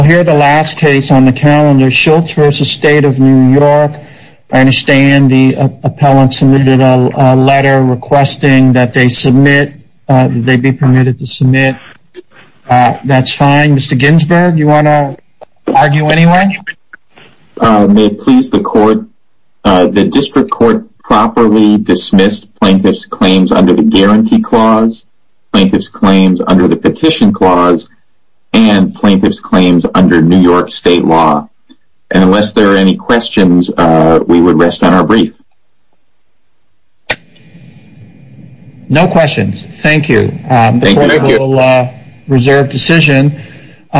I understand the appellant submitted a letter requesting that they be permitted to submit, that's fine. Mr. Ginsberg, do you want to argue anyway? May it please the court, the district court properly dismissed plaintiff's claims under the guarantee clause, plaintiff's claims under the petition clause, and plaintiff's claims under New York State law. And unless there are any questions, we would rest on our brief. No questions, thank you. Thank you. The court will reserve decision.